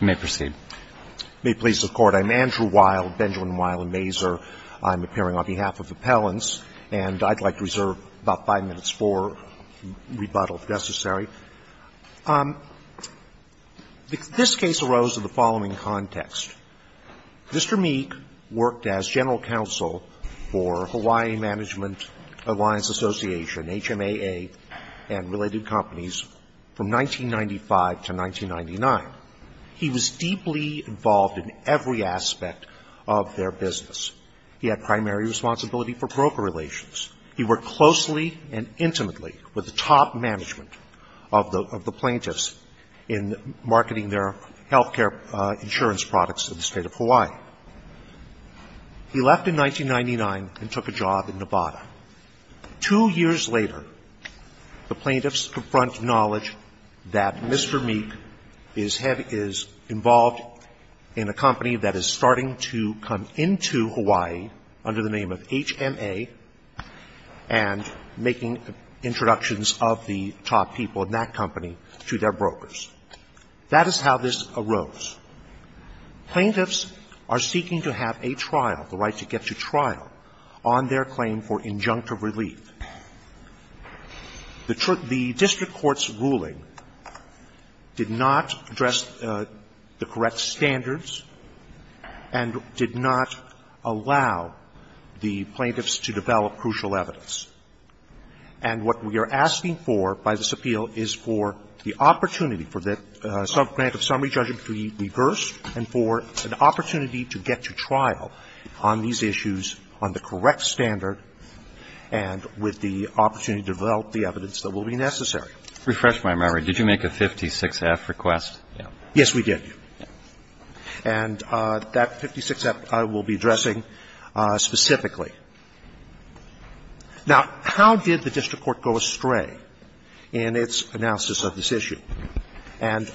I'm Andrew Wild, Benjamin Wild and Mazur. I'm appearing on behalf of Appellants, and I'd like to reserve about five minutes for rebuttal, if necessary. This case arose in the following context. Mr. Meek worked as general counsel for Hawaii Management Alliance Association, HMAA, and related companies from 1995 to 1999. He was deeply involved in every aspect of their business. He had primary responsibility for broker relations. He worked closely and intimately with the top management of the plaintiffs in marketing their health care insurance products in the state of Hawaii. He left in 1999 and took a job in Nevada. Two years later, the plaintiffs confront knowledge that Mr. Meek is involved in a company that is starting to come into Hawaii under the name of HMAA and making introductions of the top people in that company to their brokers. That is how this arose. Plaintiffs are seeking to have a trial, the right to get to trial, on their claim for injunctive relief. The district court's ruling did not address the correct standards and did not allow the plaintiffs to develop crucial evidence. And what we are asking for by this appeal is for the opportunity for the subgrant of summary judgment to be reversed and for an opportunity to get to trial on these issues on the correct standard and with the opportunity to develop the evidence that will be necessary. Refresh my memory. Did you make a 56-F request? Yes, we did. Thank you. And that 56-F I will be addressing specifically. Now, how did the district court go astray in its analysis of this issue? And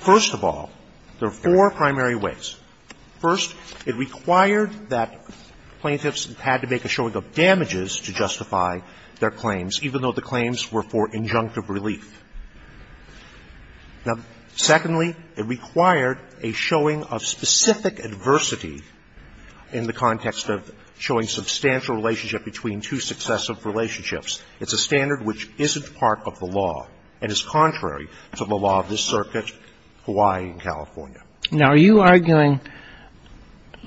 first of all, there are four primary ways. First, it required that plaintiffs had to make a showing of damages to justify their claims, even though the claims were for injunctive relief. Now, secondly, it required a showing of specific adversity in the context of showing substantial relationship between two successive relationships. It's a standard which isn't part of the law and is contrary to the law of this circuit, Hawaii and California. Now, are you arguing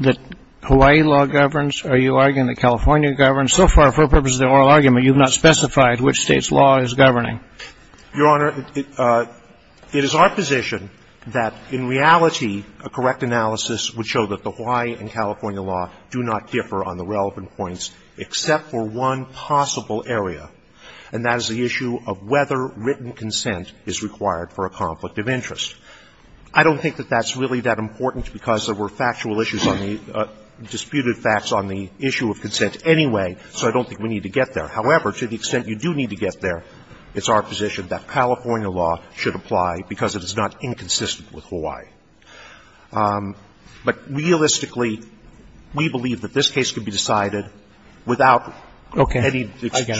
that Hawaii law governs? Are you arguing that California governs? So far, for the purpose of the oral argument, you have not specified which State's law is governing. Your Honor, it is our position that, in reality, a correct analysis would show that the Hawaii and California law do not differ on the relevant points except for one possible area, and that is the issue of whether written consent is required for a conflict of interest. I don't think that that's really that important because there were factual issues on the disputed facts on the issue of consent anyway, so I don't think we need to get there. However, to the extent you do need to get there, it's our position that California law should apply because it is not inconsistent with Hawaii. But realistically, we believe that this case could be decided without any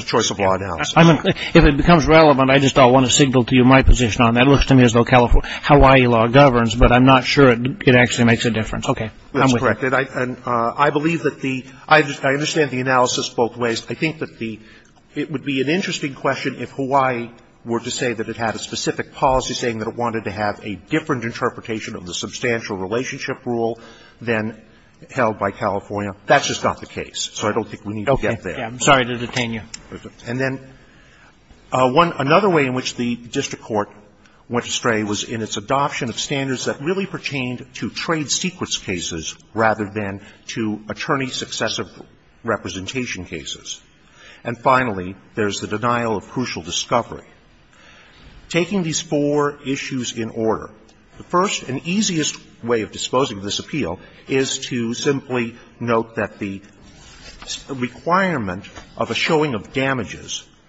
choice of law analysis. Okay. I get it. If it becomes relevant, I just want to signal to you my position on that. It looks to me as though Hawaii law governs, but I'm not sure it actually makes a difference. Okay. I'm with you. That's correct. And I believe that the – I understand the analysis both ways. I think that the – it would be an interesting question if Hawaii were to say that it had a specific policy saying that it wanted to have a different interpretation of the substantial relationship rule than held by California. That's just not the case, so I don't think we need to get there. Okay. I'm sorry to detain you. And then one – another way in which the district court went astray was in its adoption of standards that really pertained to trade secrets cases rather than to attorney-successive representation cases. And finally, there's the denial of crucial discovery. Taking these four issues in order, the first and easiest way of disposing of this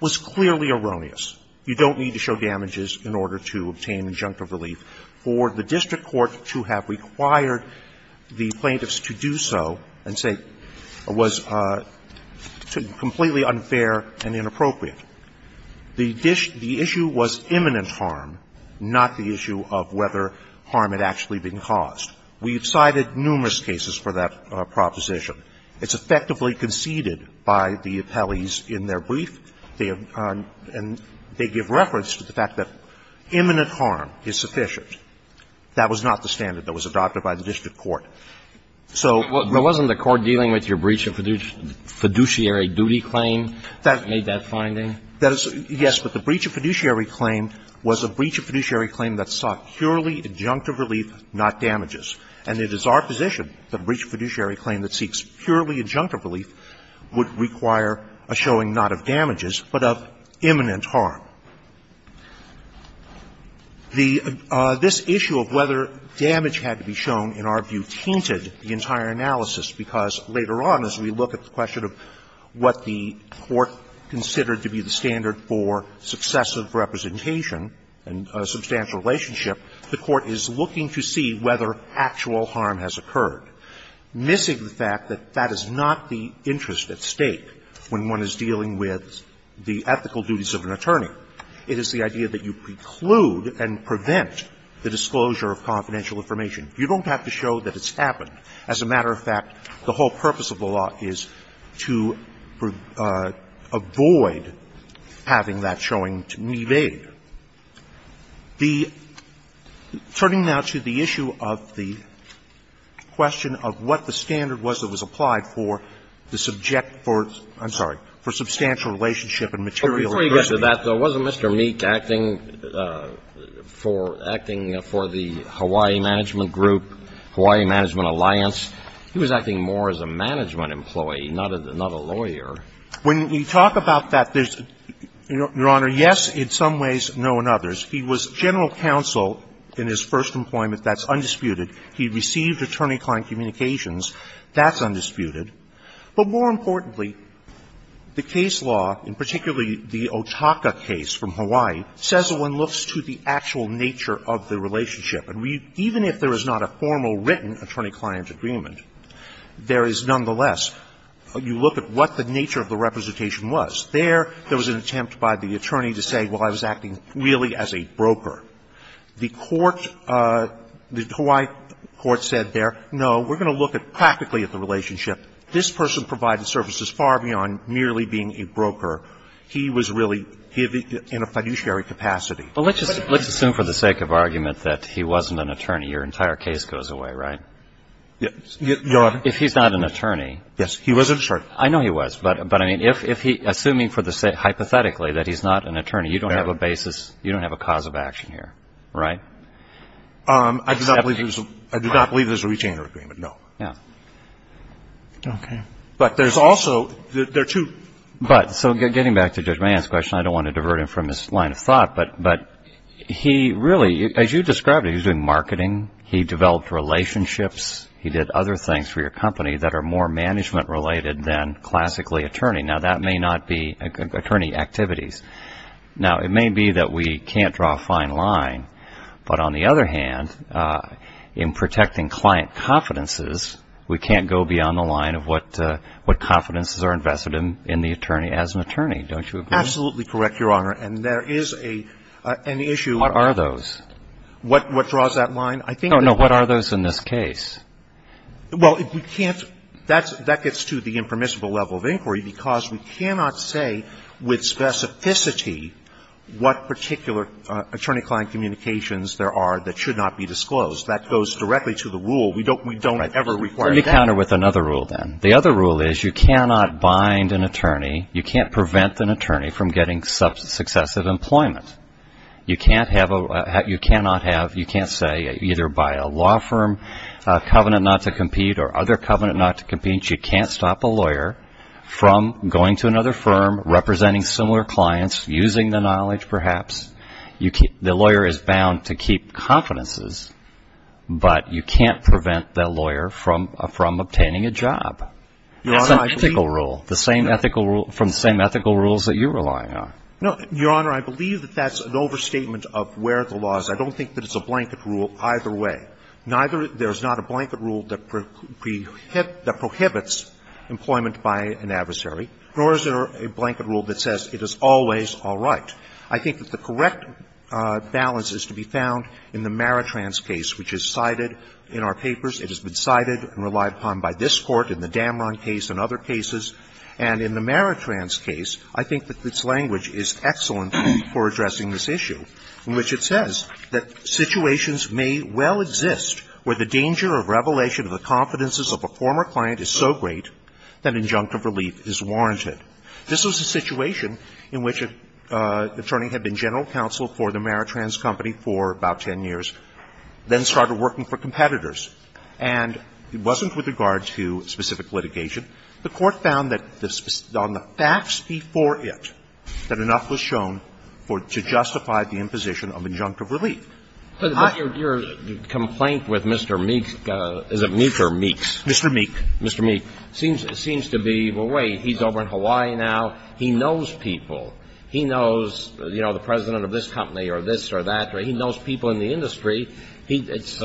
was clearly erroneous. You don't need to show damages in order to obtain injunctive relief. For the district court to have required the plaintiffs to do so and say it was completely unfair and inappropriate, the issue was imminent harm, not the issue of whether harm had actually been caused. We've cited numerous cases for that proposition. It's effectively conceded by the appellees in their brief. They have – and they give reference to the fact that imminent harm is sufficient. That was not the standard that was adopted by the district court. So – Well, wasn't the court dealing with your breach of fiduciary duty claim that made that finding? That is – yes, but the breach of fiduciary claim was a breach of fiduciary claim that sought purely injunctive relief, not damages. And it is our position that a breach of fiduciary claim that seeks purely injunctive relief would require a showing not of damages, but of imminent harm. The – this issue of whether damage had to be shown, in our view, tainted the entire analysis, because later on, as we look at the question of what the court considered to be the standard for successive representation and substantial relationship, the court is looking to see whether actual harm has occurred, missing the fact that that is not the interest at stake when one is dealing with the ethical duties of an attorney. It is the idea that you preclude and prevent the disclosure of confidential information. You don't have to show that it's happened. As a matter of fact, the statute does not allow that showing to evade. The – turning now to the issue of the question of what the standard was that was applied for the subject for – I'm sorry, for substantial relationship and material adversity. But before you get to that, though, wasn't Mr. Meek acting for – acting for the Hawaii Management Group, Hawaii Management Alliance? He was acting more as a management employee, not a lawyer. When we talk about that, there's – Your Honor, yes in some ways, no in others. He was general counsel in his first employment. That's undisputed. He received attorney-client communications. That's undisputed. But more importantly, the case law, and particularly the Otaka case from Hawaii, says that one looks to the actual nature of the relationship. And we – even if there is not a formal written attorney-client agreement, there is nonetheless – you look at what the nature of the representation was. There, there was an attempt by the attorney to say, well, I was acting really as a broker. The court – the Hawaii court said there, no, we're going to look practically at the relationship. This person provided services far beyond merely being a broker. He was really in a fiduciary capacity. Well, let's just – let's assume for the sake of argument that he wasn't an attorney. Your entire case goes away, right? Your Honor? If he's not an attorney. Yes. He was an attorney. I know he was. But, I mean, if he – assuming for the sake – hypothetically that he's not an attorney, you don't have a basis – you don't have a cause of action here, right? I do not believe there's a – I do not believe there's a retainer agreement, no. Yeah. Okay. But there's also – there are two – But – so getting back to Judge Mahan's question, I don't want to divert him from his line of thought, but he really – as you described it, he was doing marketing. He developed relationships. He did other things for your company that are more management-related than classically attorney. Now, that may not be attorney activities. Now, it may be that we can't draw a fine line, but on the other hand, in protecting client confidences, we can't go beyond the line of what confidences are invested in the attorney as an attorney, don't you agree? Absolutely correct, Your Honor. And there is an issue – What are those? What draws that line? I think that – No, no. What are those in this case? Well, we can't – that gets to the impermissible level of inquiry because we cannot say with specificity what particular attorney-client communications there are that should not be disclosed. That goes directly to the rule. We don't ever require that. Right. Let me counter with another rule, then. The other rule is you cannot bind an attorney – you can't prevent an attorney from getting successive employment. You cannot have – you can't say either by a law firm covenant not to compete or other covenant not to compete, you can't stop a lawyer from going to another firm, representing similar clients, using the knowledge perhaps. The lawyer is bound to keep confidences, but you can't prevent that lawyer from obtaining a job. Your Honor, I believe – It's an ethical rule, the same ethical rule – from the same ethical rules that you're relying on. No, Your Honor, I believe that that's an overstatement of where the law is. I don't think that it's a blanket rule either way. Neither – there's not a blanket rule that prohibits employment by an adversary, nor is there a blanket rule that says it is always all right. I think that the correct balance is to be found in the Maritrans case, which is cited in our papers. It has been cited and relied upon by this Court in the Damron case and other cases. And in the Maritrans case, I think that its language is excellent for addressing this issue, in which it says that situations may well exist where the danger of revelation of the confidences of a former client is so great that injunctive relief is warranted. This was a situation in which an attorney had been general counsel for the Maritrans company for about 10 years, then started working for competitors. And it wasn't with regard to specific litigation. The Court found that the – on the facts before it, that enough was shown for – to justify the imposition of injunctive relief. But your complaint with Mr. Meeks – is it Meeks or Meeks? Mr. Meeks. Mr. Meeks seems to be, well, wait, he's over in Hawaii now. He knows people. He knows, you know, the president of this company or this or that. He knows people in the industry. He's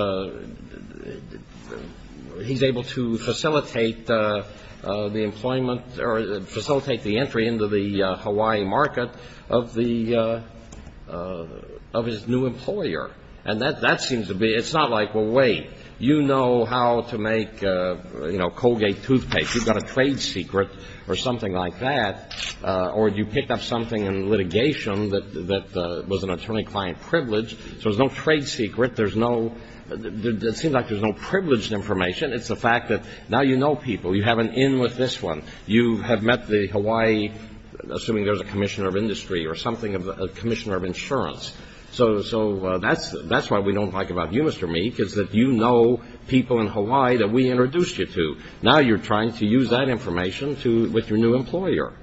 able to facilitate the employment – or facilitate the entry into the Hawaii market of the – of his new employer. And that seems to be – it's not like, well, wait, you know how to make, you know, Colgate toothpaste. You've got a trade secret or something like that. Or you picked up something in litigation that was an attorney-client privilege. So there's no trade secret. There's no – it seems like there's no privileged information. It's the fact that now you know people. You have an in with this one. You have met the Hawaii – assuming there's a commissioner of industry or something – commissioner of insurance. So that's why we don't like about you, Mr. Meeks, is that you know people in Hawaii that we introduced you to. Now you're trying to use that information to – with your new employer.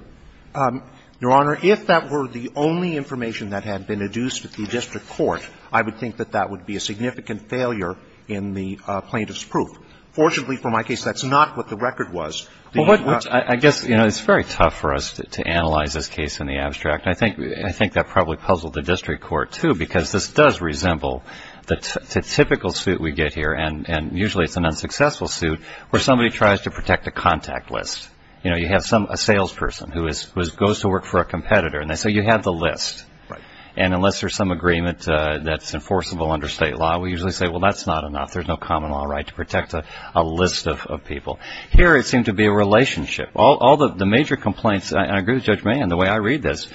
Your Honor, if that were the only information that had been induced at the district court, I would think that that would be a significant failure in the plaintiff's proof. Fortunately, for my case, that's not what the record was. Well, what – I guess, you know, it's very tough for us to analyze this case in the abstract. I think – I think that probably puzzled the district court, too, because this does resemble the typical suit we get here. And usually it's an unsuccessful suit where somebody tries to protect a contact list. You know, you have some – a salesperson who is – who goes to work for a competitor. And they say, you have the list. And unless there's some agreement that's enforceable under state law, we usually say, well, that's not enough. There's no common law right to protect a list of people. Here it seemed to be a relationship. All the major complaints – and I agree with Judge Mayen in the way I read this.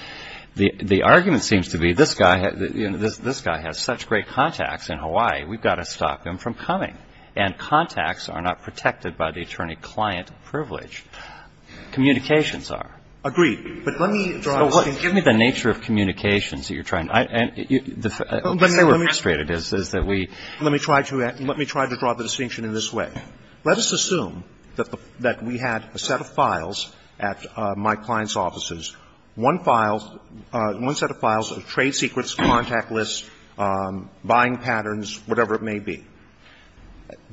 The argument seems to be this guy – this guy has such great contacts in Hawaii. We've got to stop him from coming. And contacts are not protected by the attorney-client privilege. Communications are. Agreed. But let me draw the distinction. So what – give me the nature of communications that you're trying to – I – the fact that they were frustrated is that we – Let me try to – let me try to draw the distinction in this way. Let us assume that the – that we had a set of files at my client's offices, one file – one set of files of trade secrets, contact lists, buying patterns, whatever it may be.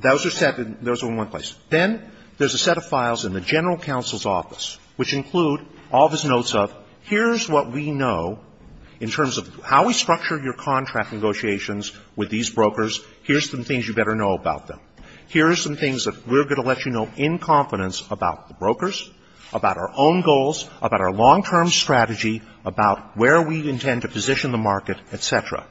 Those are set in – those are in one place. Then there's a set of files in the general counsel's office, which include all of his notes of, here's what we know in terms of how we structure your contract negotiations with these brokers. Here's some things you better know about them. Here's some things that we're going to let you know in confidence about the brokers, about our own goals, about our long-term strategy, about where we intend to position the market, et cetera.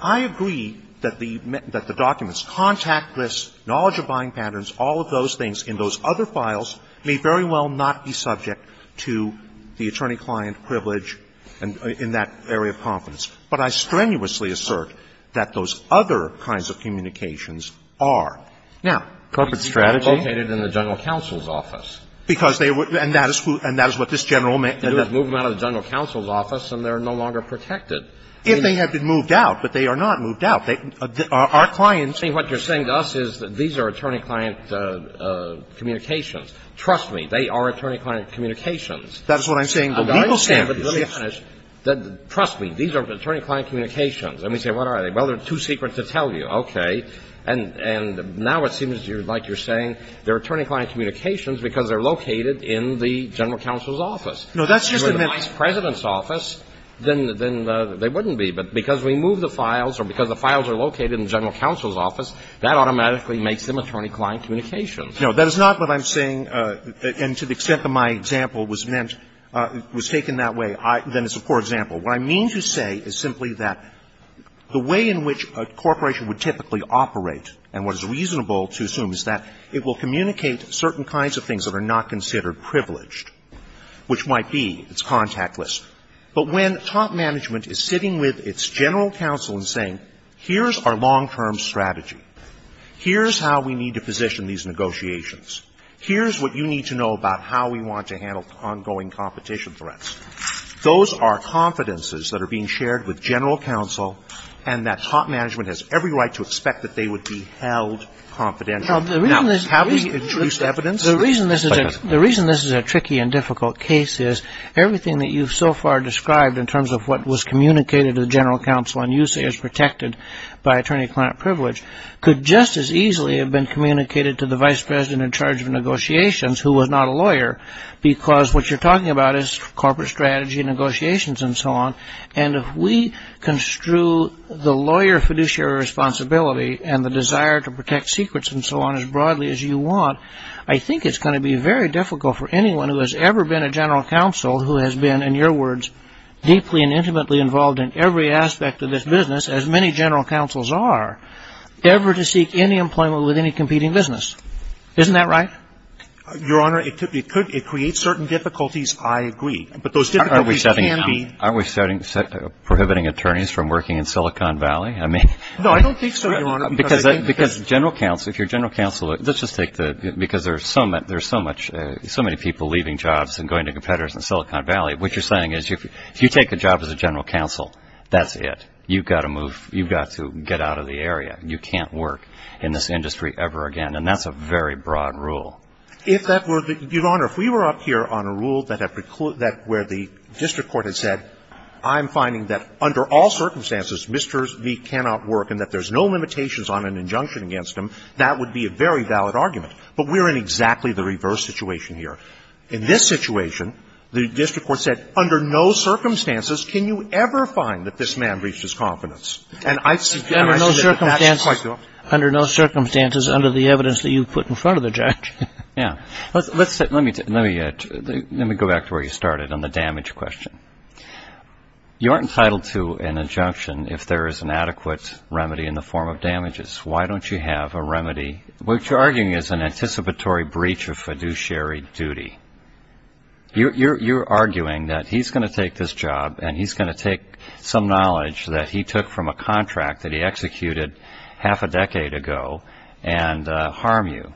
I agree that the – that the documents, contact lists, knowledge of buying patterns, all of those things in those other files may very well not be subject to the attorney-client privilege and – in that area of confidence. But I strenuously assert that those other kinds of communications are. Now – Corporate strategy? These people are located in the general counsel's office. Because they were – and that is who – and that is what this General – They move them out of the general counsel's office, and they're no longer protected. If they had been moved out, but they are not moved out. They – our clients – See, what you're saying to us is that these are attorney-client communications. Trust me, they are attorney-client communications. That's what I'm saying. I understand, but let me finish. Trust me, these are attorney-client communications. And we say, what are they? Well, they're too secret to tell you. Okay. And now it seems like you're saying they're attorney-client communications because they're located in the general counsel's office. No, that's just the – If they were located in the vice president's office, then they wouldn't be. But because we move the files, or because the files are located in the general counsel's office, that automatically makes them attorney-client communications. No, that is not what I'm saying, and to the extent that my example was meant – was taken that way, then it's a poor example. What I mean to say is simply that the way in which a corporation would typically operate, and what is reasonable to assume, is that it will communicate certain kinds of things that are not considered privileged, which might be, it's contactless. But when top management is sitting with its general counsel and saying, here's our long-term strategy, here's how we need to position these negotiations, here's what you need to know about how we want to handle ongoing competition threats, those are confidences that are being shared with general counsel, and that top management has every right to expect that they would be held confidential. Now, how do we introduce evidence? The reason this is a tricky and difficult case is, everything that you've so far described in terms of what was communicated to the general counsel, and you say is protected by attorney-client privilege, could just as easily have been communicated to the vice president in charge of negotiations, who was not a lawyer, because what you're talking about is corporate strategy, negotiations, and so on. And if we construe the lawyer fiduciary responsibility, and the desire to protect secrets and so on as broadly as you want, I think it's going to be very difficult for anyone who has ever been a general counsel, who has been, in your words, deeply and intimately involved in every aspect of this business, as many general counsels are, ever to seek any employment with any competing business. Isn't that right? Your Honor, it could, it creates certain difficulties, I agree. But those difficulties can be... Aren't we prohibiting attorneys from working in Silicon Valley? I mean... No, I don't think so, Your Honor. Because general counsel, if you're a general counsel, let's just take the, because there's so much, so many people leaving jobs and going to competitors in Silicon Valley, what you're saying is if you take the job as a general counsel, that's it. You've got to move, you've got to get out of the area. You can't work in this industry ever again. And that's a very broad rule. If that were the, Your Honor, if we were up here on a rule that had precluded, that where the district court had said, I'm finding that under all circumstances, Mr. V. cannot work and that there's no limitations on an injunction against him, that would be a very valid argument. But we're in exactly the reverse situation here. In this situation, the district court said, under no circumstances can you ever find that this man breached his confidence. And I suggest that that's quite the opposite. Under no circumstances, under the evidence that you put in front of the judge. Yeah. Let's say, let me, let me go back to where you started on the damage question. You aren't entitled to an injunction if there is an adequate remedy in the form of damages. Why don't you have a remedy, which you're arguing is an anticipatory breach of fiduciary duty. You're, you're, you're arguing that he's going to take this job and he's going to take some knowledge that he took from a contract that he executed half a decade ago and harm you.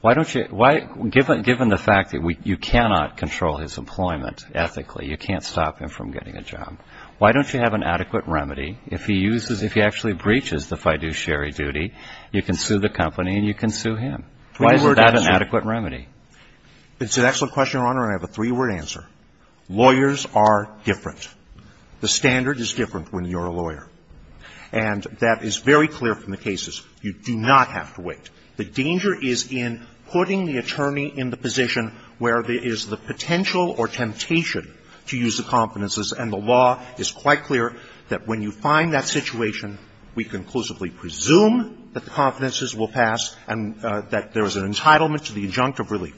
Why don't you, why, given, given the fact that we, you cannot control his employment ethically, you can't stop him from getting a job. Why don't you have an adequate remedy if he uses, if he actually breaches the fiduciary duty, you can sue the company and you can sue him. Why is that an adequate remedy? It's an excellent question, Your Honor, and I have a three-word answer. Lawyers are different. The standard is different when you're a lawyer. And that is very clear from the cases. You do not have to wait. The danger is in putting the attorney in the position where there is the potential or temptation to use the confidences. And the law is quite clear that when you find that situation, we conclusively presume that the confidences will pass and that there is an entitlement to the injunctive relief.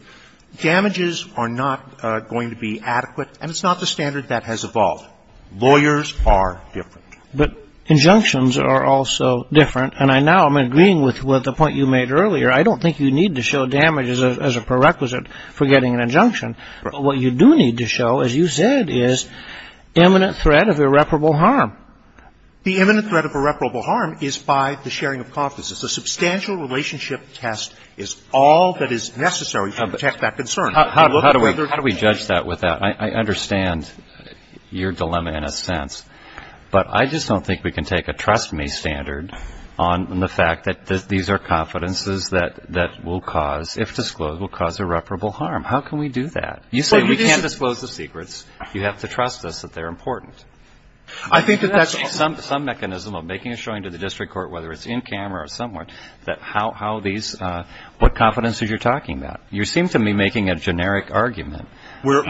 Damages are not going to be adequate, and it's not the standard that has evolved. Lawyers are different. But injunctions are also different. And I now am agreeing with the point you made earlier. I don't think you need to show damages as a prerequisite for getting an injunction. What you do need to show, as you said, is imminent threat of irreparable harm. The imminent threat of irreparable harm is by the sharing of confidences. A substantial relationship test is all that is necessary to protect that concern. How do we judge that with that? I understand your dilemma in a sense. But I just don't think we can take a trust-me standard on the fact that these are confidences that will cause, if disclosed, will cause irreparable harm. How can we do that? You say we can't disclose the secrets. You have to trust us that they're important. I think that that's also the case. There has to be some mechanism of making a showing to the district court, whether it's in camera or somewhere, that how these – what confidences you're talking about. You seem to be making a generic argument. We're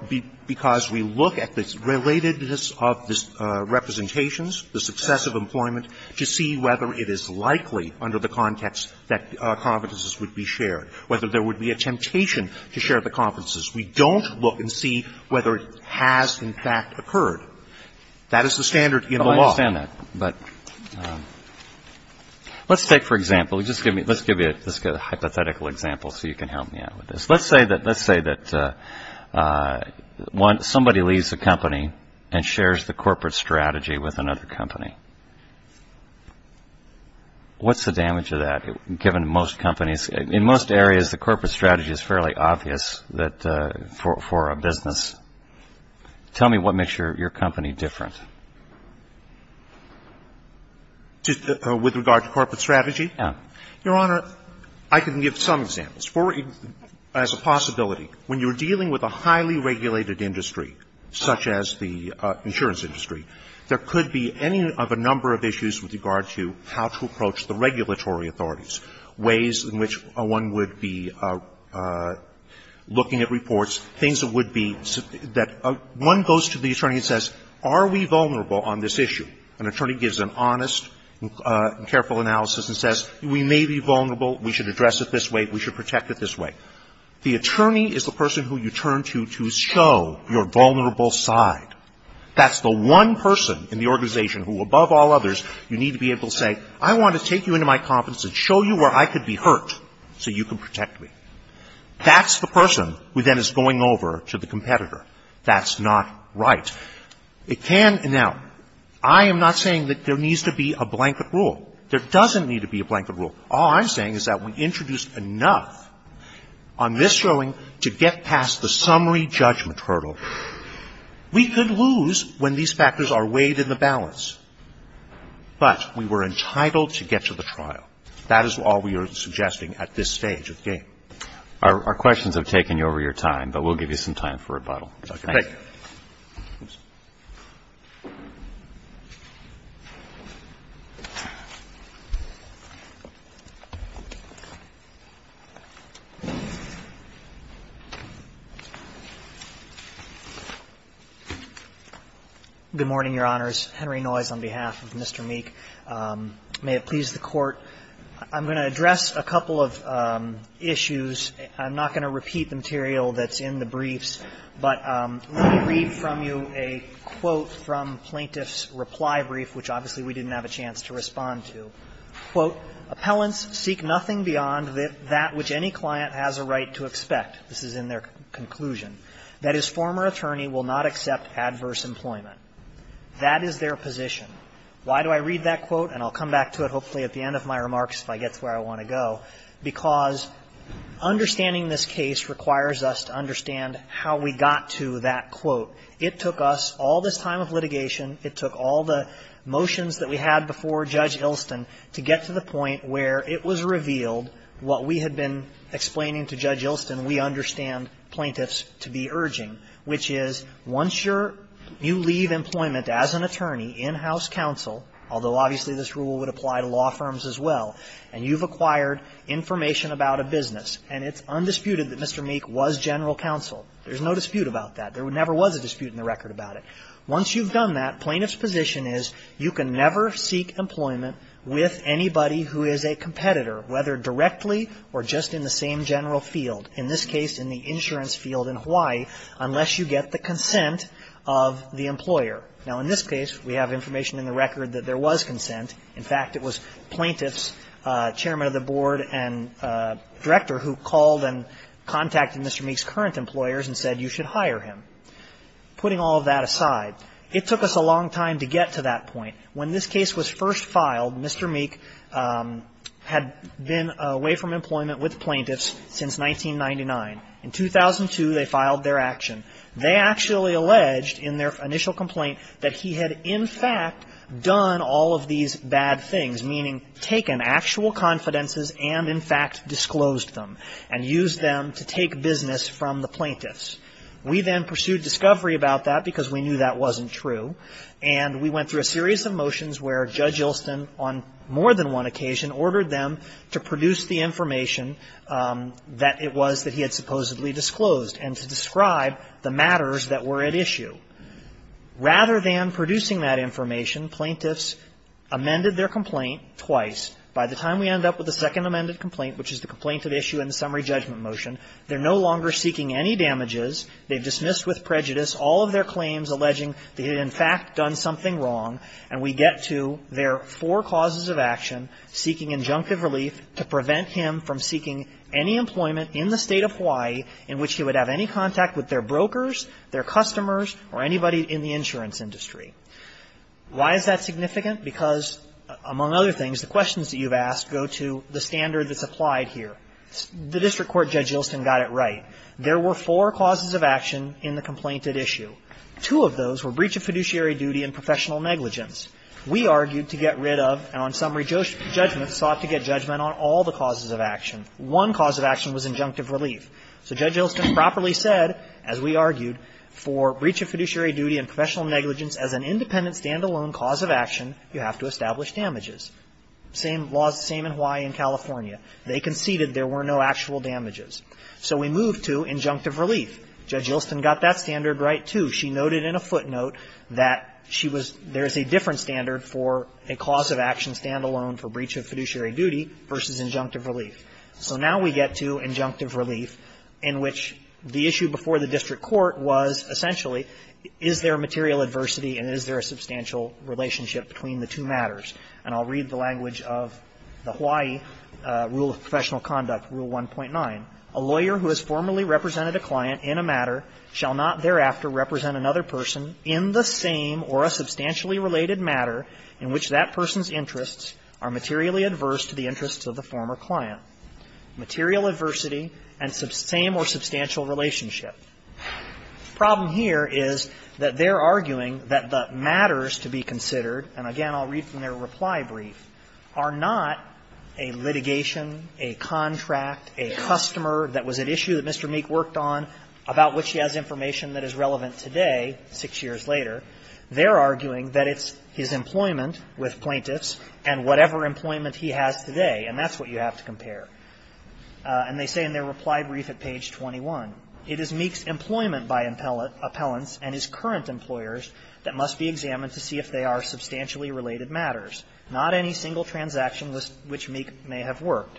– because we look at the relatedness of the representations, the success of employment, to see whether it is likely under the context that confidences would be shared, whether there would be a temptation to share the confidences. We don't look and see whether it has, in fact, occurred. That is the standard in the law. I understand that, but let's take, for example, just give me – let's give you a hypothetical example so you can help me out with this. Let's say that – let's say that somebody leaves the company and shares the corporate strategy with another company. What's the damage of that, given most companies – in most areas, the corporate strategy is fairly obvious that – for a business. Tell me what makes your company different. With regard to corporate strategy? Yeah. Your Honor, I can give some examples. For – as a possibility, when you're dealing with a highly regulated industry such as the insurance industry, there could be any of a number of issues with regard to how to approach the regulatory authorities, ways in which one would be looking at reports, things that would be – that one goes to the attorney and says, are we vulnerable on this issue? An attorney gives an honest and careful analysis and says, we may be vulnerable. We should address it this way. We should protect it this way. The attorney is the person who you turn to to show your vulnerable side. That's the one person in the organization who, above all others, you need to be able to say, I want to take you into my confidence and show you where I could be hurt so you can protect me. That's the person who then is going over to the competitor. That's not right. It can – now, I am not saying that there needs to be a blanket rule. There doesn't need to be a blanket rule. All I'm saying is that we introduced enough on this showing to get past the summary judgment hurdle. We could lose when these factors are weighed in the balance. But we were entitled to get to the trial. That is all we are suggesting at this stage of the game. Our questions have taken you over your time, but we'll give you some time for rebuttal. Dr. Pick. Good morning, Your Honors. Henry Noyes on behalf of Mr. Meek. May it please the Court, I'm going to address a couple of issues. I'm not going to repeat the material that's in the briefs, but let me read from you a quote from Plaintiff's reply brief, which obviously we didn't have a chance to respond to. Quote, "'Appellants' seek nothing beyond that which any client has a right to expect. This is in their conclusion. That his former attorney will not accept adverse employment. That is their position. Why do I read that quote? And I'll come back to it hopefully at the end of my remarks if I get to where I want to go, because understanding this case requires us to understand how we got to that quote. It took us all this time of litigation, it took all the motions that we had before Judge Ilston to get to the point where it was revealed what we had been explaining to Judge Ilston we understand plaintiffs to be urging, which is once you leave employment as an attorney in House counsel, although obviously this rule would apply to law firms as well, and you've acquired information about a business, and it's undisputed that Mr. Meek was general counsel. There's no dispute about that. There never was a dispute in the record about it. Once you've done that, plaintiff's position is you can never seek employment with anybody who is a competitor, whether directly or just in the same general field, in this case in the insurance field in Hawaii, unless you get the consent of the employer. Now, in this case, we have information in the record that there was consent. In fact, it was plaintiffs, chairman of the board, and director who called and contacted Mr. Meek's current employers and said you should hire him. Putting all of that aside, it took us a long time to get to that point. When this case was first filed, Mr. Meek had been away from employment with plaintiffs since 1999. In 2002, they filed their action. They actually alleged in their initial complaint that he had in fact done all of these bad things, meaning taken actual confidences and in fact disclosed them and used them to take business from the plaintiffs. We then pursued discovery about that because we knew that wasn't true. And we went through a series of motions where Judge Ilston, on more than one occasion, ordered them to produce the information that it was that he had supposedly disclosed and to describe the matters that were at issue. Rather than producing that information, plaintiffs amended their complaint twice. By the time we end up with the second amended complaint, which is the complaint at issue in the summary judgment motion, they're no longer seeking any damages. They've dismissed with prejudice all of their claims alleging that he had in fact done something wrong. And we get to their four causes of action, seeking injunctive relief to prevent him from seeking any employment in the State of Hawaii in which he would have any of his brokers, their customers, or anybody in the insurance industry. Why is that significant? Because, among other things, the questions that you've asked go to the standard that's applied here. The district court, Judge Ilston, got it right. There were four causes of action in the complaint at issue. Two of those were breach of fiduciary duty and professional negligence. We argued to get rid of, and on summary judgment sought to get judgment on all the causes of action. One cause of action was injunctive relief. So Judge Ilston properly said, as we argued, for breach of fiduciary duty and professional negligence as an independent, standalone cause of action, you have to establish damages. Same laws, same in Hawaii and California. They conceded there were no actual damages. So we move to injunctive relief. Judge Ilston got that standard right, too. She noted in a footnote that she was – there is a different standard for a cause of action standalone for breach of fiduciary duty versus injunctive relief. So now we get to injunctive relief, in which the issue before the district court was essentially, is there material adversity and is there a substantial relationship between the two matters. And I'll read the language of the Hawaii rule of professional conduct, Rule 1.9. A lawyer who has formerly represented a client in a matter shall not thereafter represent another person in the same or a substantially related matter in which that person's interests are materially adverse to the interests of the former client. Material adversity and same or substantial relationship. The problem here is that they're arguing that the matters to be considered, and again, I'll read from their reply brief, are not a litigation, a contract, a customer that was at issue that Mr. Meek worked on, about which he has information that is relevant today, six years later. They're arguing that it's his employment with plaintiffs and whatever employment he has today, and that's what you have to compare. And they say in their reply brief at page 21, it is Meek's employment by appellants and his current employers that must be examined to see if they are substantially related matters. Not any single transaction which Meek may have worked.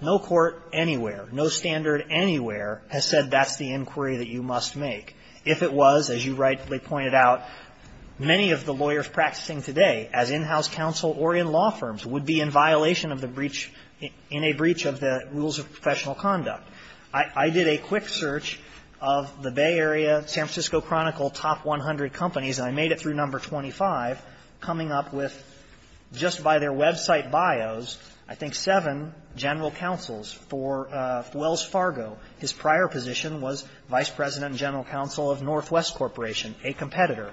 No court anywhere, no standard anywhere has said that's the inquiry that you must make. If it was, as you rightly pointed out, many of the lawyers practicing today as in-house counsel or in law firms would be in violation of the breach, in a breach of the rules of professional conduct. I did a quick search of the Bay Area, San Francisco Chronicle top 100 companies, and I made it through number 25, coming up with, just by their website bios, I think seven general counsels for Wells Fargo. His prior position was vice president and general counsel of Northwest Corporation, a competitor.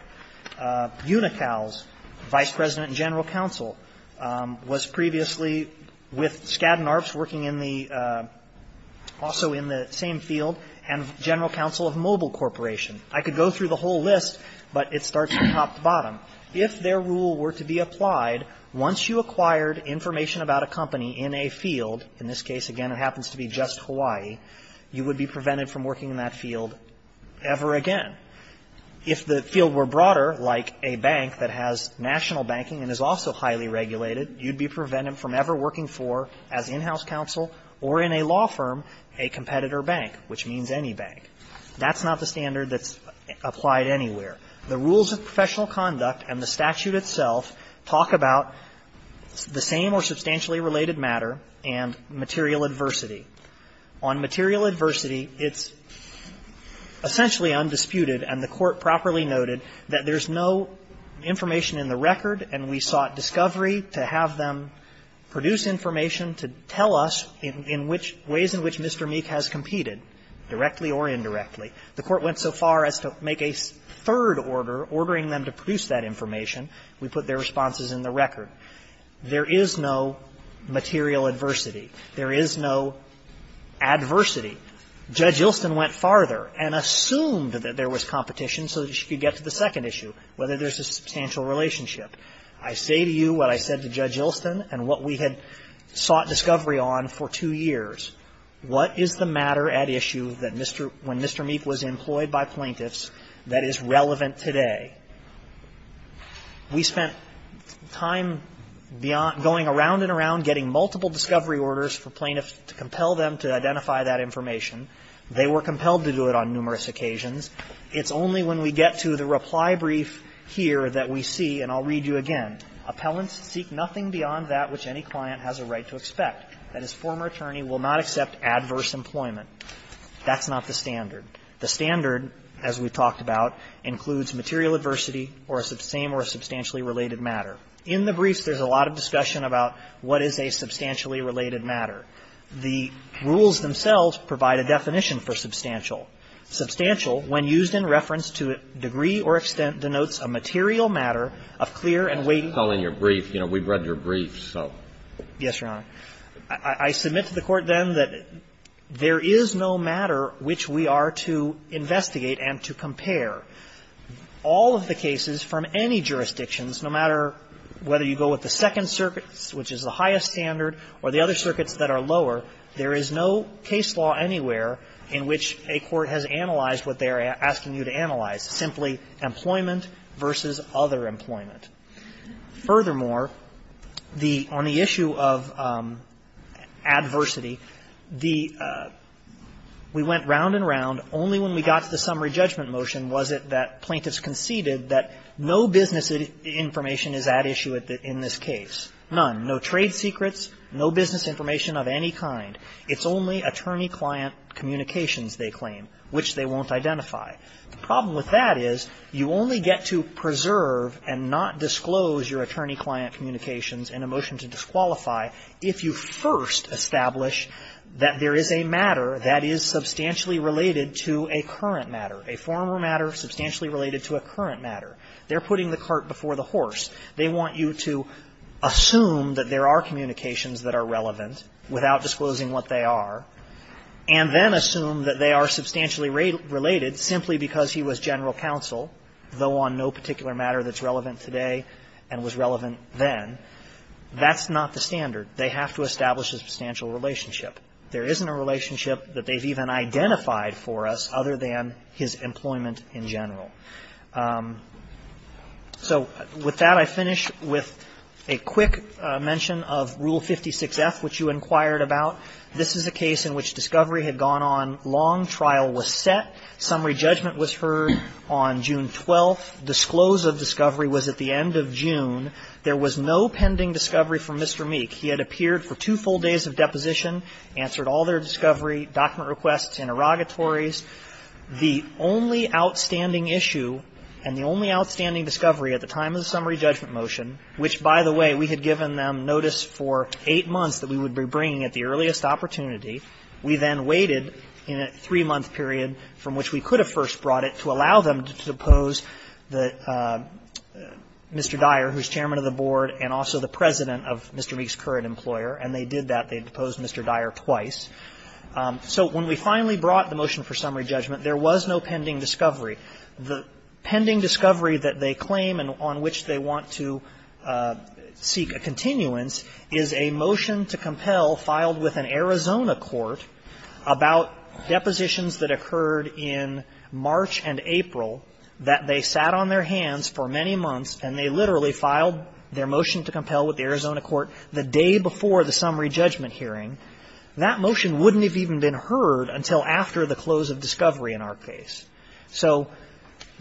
Unical's vice president and general counsel was previously with Skadden Arps working in the, also in the same field, and general counsel of Mobile Corporation. I could go through the whole list, but it starts from top to bottom. If their rule were to be applied, once you acquired information about a company in a field, you would be prevented from working in that field ever again. If the field were broader, like a bank that has national banking and is also highly regulated, you'd be prevented from ever working for, as in-house counsel or in a law firm, a competitor bank, which means any bank. That's not the standard that's applied anywhere. The rules of professional conduct and the statute itself talk about the same or substantially related matter and material adversity. On material adversity, it's essentially undisputed, and the Court properly noted, that there's no information in the record, and we sought discovery to have them produce information to tell us in which, ways in which Mr. Meek has competed, directly or indirectly. The Court went so far as to make a third order ordering them to produce that information. We put their responses in the record. There is no material adversity. There is no adversity. Judge Ilston went farther and assumed that there was competition so that she could get to the second issue, whether there's a substantial relationship. I say to you what I said to Judge Ilston and what we had sought discovery on for two years. What is the matter at issue that Mr. — when Mr. Meek was employed by plaintiffs that is relevant today? We spent time going around and around getting multiple discovery orders for plaintiffs to compel them to identify that information. They were compelled to do it on numerous occasions. It's only when we get to the reply brief here that we see, and I'll read you again, appellants seek nothing beyond that which any client has a right to expect, that his former attorney will not accept adverse employment. That's not the standard. The standard, as we've talked about, includes material adversity or the same or substantially related matter. In the briefs, there's a lot of discussion about what is a substantially related matter. The rules themselves provide a definition for substantial. Substantial, when used in reference to a degree or extent, denotes a material matter of clear and weighty — I was just telling your brief, you know, we've read your brief, so. Yes, Your Honor. I submit to the Court, then, that there is no matter which we are to investigate and to compare. All of the cases from any jurisdictions, no matter whether you go with the Second Circuit, which is the highest standard, or the other circuits that are lower, there is no case law anywhere in which a court has analyzed what they are asking you to analyze, simply employment versus other employment. Furthermore, the — on the issue of adversity, the — we went round and round. Only when we got to the summary judgment motion was it that plaintiffs conceded that no business information is at issue in this case. None. No trade secrets, no business information of any kind. It's only attorney-client communications, they claim, which they won't identify. The problem with that is, you only get to preserve and not disclose your attorney-client communications in a motion to disqualify if you first establish that there is a matter that is substantially related to a current matter, a former matter substantially related to a current matter. They're putting the cart before the horse. They want you to assume that there are communications that are relevant, without So with that, I finish with a quick mention of Rule 56F, which you inquired about. This is a case in which discovery had gone on long. Trial was set. Summary judgment was heard on June 12th. Disclose of discovery was at the end of June. There was no pending discovery from Mr. Meek. He had appeared for two full days of deposition, answered all their discovery, document requests, interrogatories. The only outstanding issue and the only outstanding discovery at the time of the summary judgment motion, which, by the way, we had given them notice for eight months that we would be bringing at the earliest opportunity, we then waited in a three-month period from which we could have first brought it to allow them to depose the Mr. Dyer, who is chairman of the board and also the president of Mr. Meek's current employer, and they did that. They deposed Mr. Dyer twice. So when we finally brought the motion for summary judgment, there was no pending discovery. The pending discovery that they claim and on which they want to seek a continuance is a motion to compel filed with an Arizona court about depositions that occurred in March and April that they sat on their hands for many months and they literally filed their motion to compel with the Arizona court the day before the summary judgment hearing. That motion wouldn't have even been heard until after the close of discovery in our case. So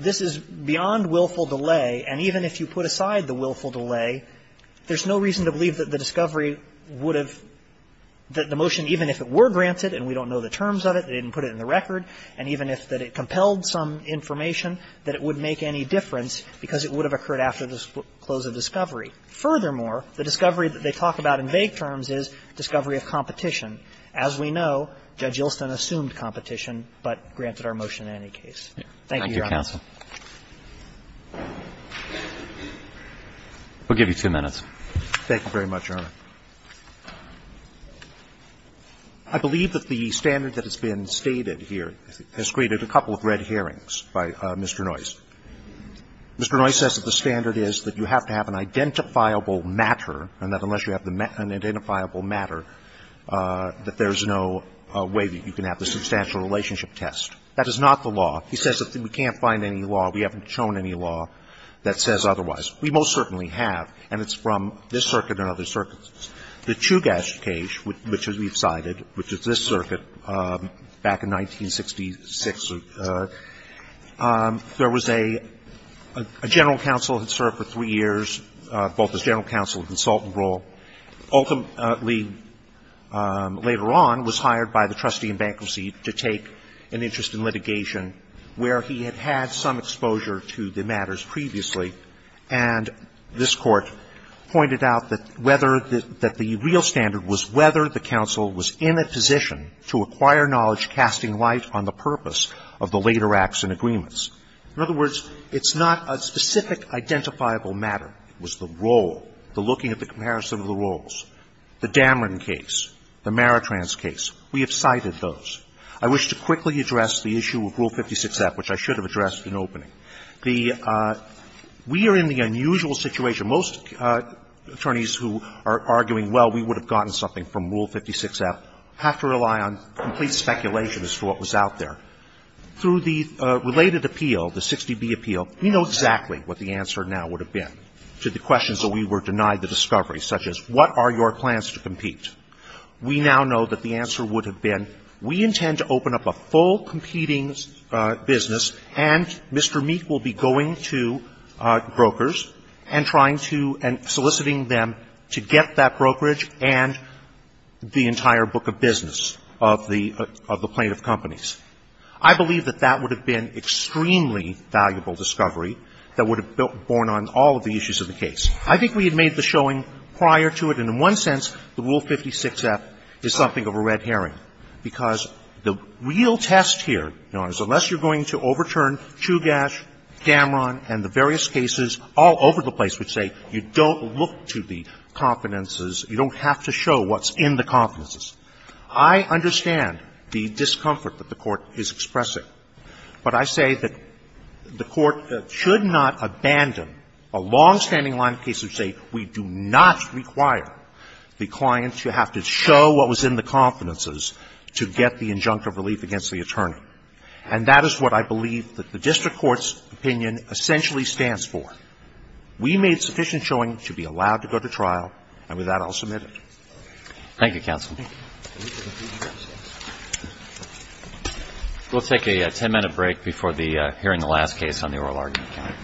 this is beyond willful delay, and even if you put aside the willful delay, there's no reason to believe that the discovery would have the motion, even if it were granted and we don't know the terms of it, they didn't put it in the record, and even if that it compelled some information, that it would make any difference because it would have occurred after the close of discovery. Furthermore, the discovery that they talk about in vague terms is discovery of competition. As we know, Judge Yeltsin assumed competition, but granted our motion in any case. Thank you, Your Honor. Thank you, counsel. We'll give you two minutes. Thank you very much, Your Honor. I believe that the standard that has been stated here has created a couple of red hearings by Mr. Noyce. Mr. Noyce says that the standard is that you have to have an identifiable matter and that unless you have an identifiable matter, that there's no way that you can have the substantial relationship test. That is not the law. He says that we can't find any law, we haven't shown any law that says otherwise. We most certainly have, and it's from this circuit and other circuits. The Chugach case, which we've cited, which is this circuit, back in 1966, there was a general counsel that served for three years, both as general counsel and consultant role, ultimately later on was hired by the trustee in bankruptcy to take an interest in litigation where he had had some exposure to the matters previously. And this Court pointed out that whether the real standard was whether the counsel was in a position to acquire knowledge casting light on the purpose of the later acts and agreements. In other words, it's not a specific identifiable matter. It was the role, the looking at the comparison of the roles. The Damron case, the Maritrans case, we have cited those. I wish to quickly address the issue of Rule 56F, which I should have addressed in opening. The we are in the unusual situation. Most attorneys who are arguing, well, we would have gotten something from Rule 56F have to rely on complete speculation as to what was out there. Through the related appeal, the 60B appeal, we know exactly what the answer now would have been to the questions where we were denied the discovery, such as what are your plans to compete. We now know that the answer would have been, we intend to open up a full competing business and Mr. Meek will be going to brokers and trying to and soliciting them to get that brokerage and the entire book of business of the plaintiff companies. I believe that that would have been extremely valuable discovery that would have borne on all of the issues of the case. I think we had made the showing prior to it, and in one sense, the Rule 56F is something of a red herring, because the real test here, Your Honors, unless you're going to overturn Chugash, Damron, and the various cases all over the place which say you don't look to the confidences, you don't have to show what's in the confidences. I understand the discomfort that the Court is expressing, but I say that the Court should not abandon a longstanding line of cases that say we do not require the client to have to show what was in the confidences to get the injunctive relief against the attorney. And that is what I believe that the district court's opinion essentially stands for. We made sufficient showing to be allowed to go to trial, and with that, I'll submit it. Thank you, counsel. We'll take a 10-minute break before hearing the last case on the oral argument.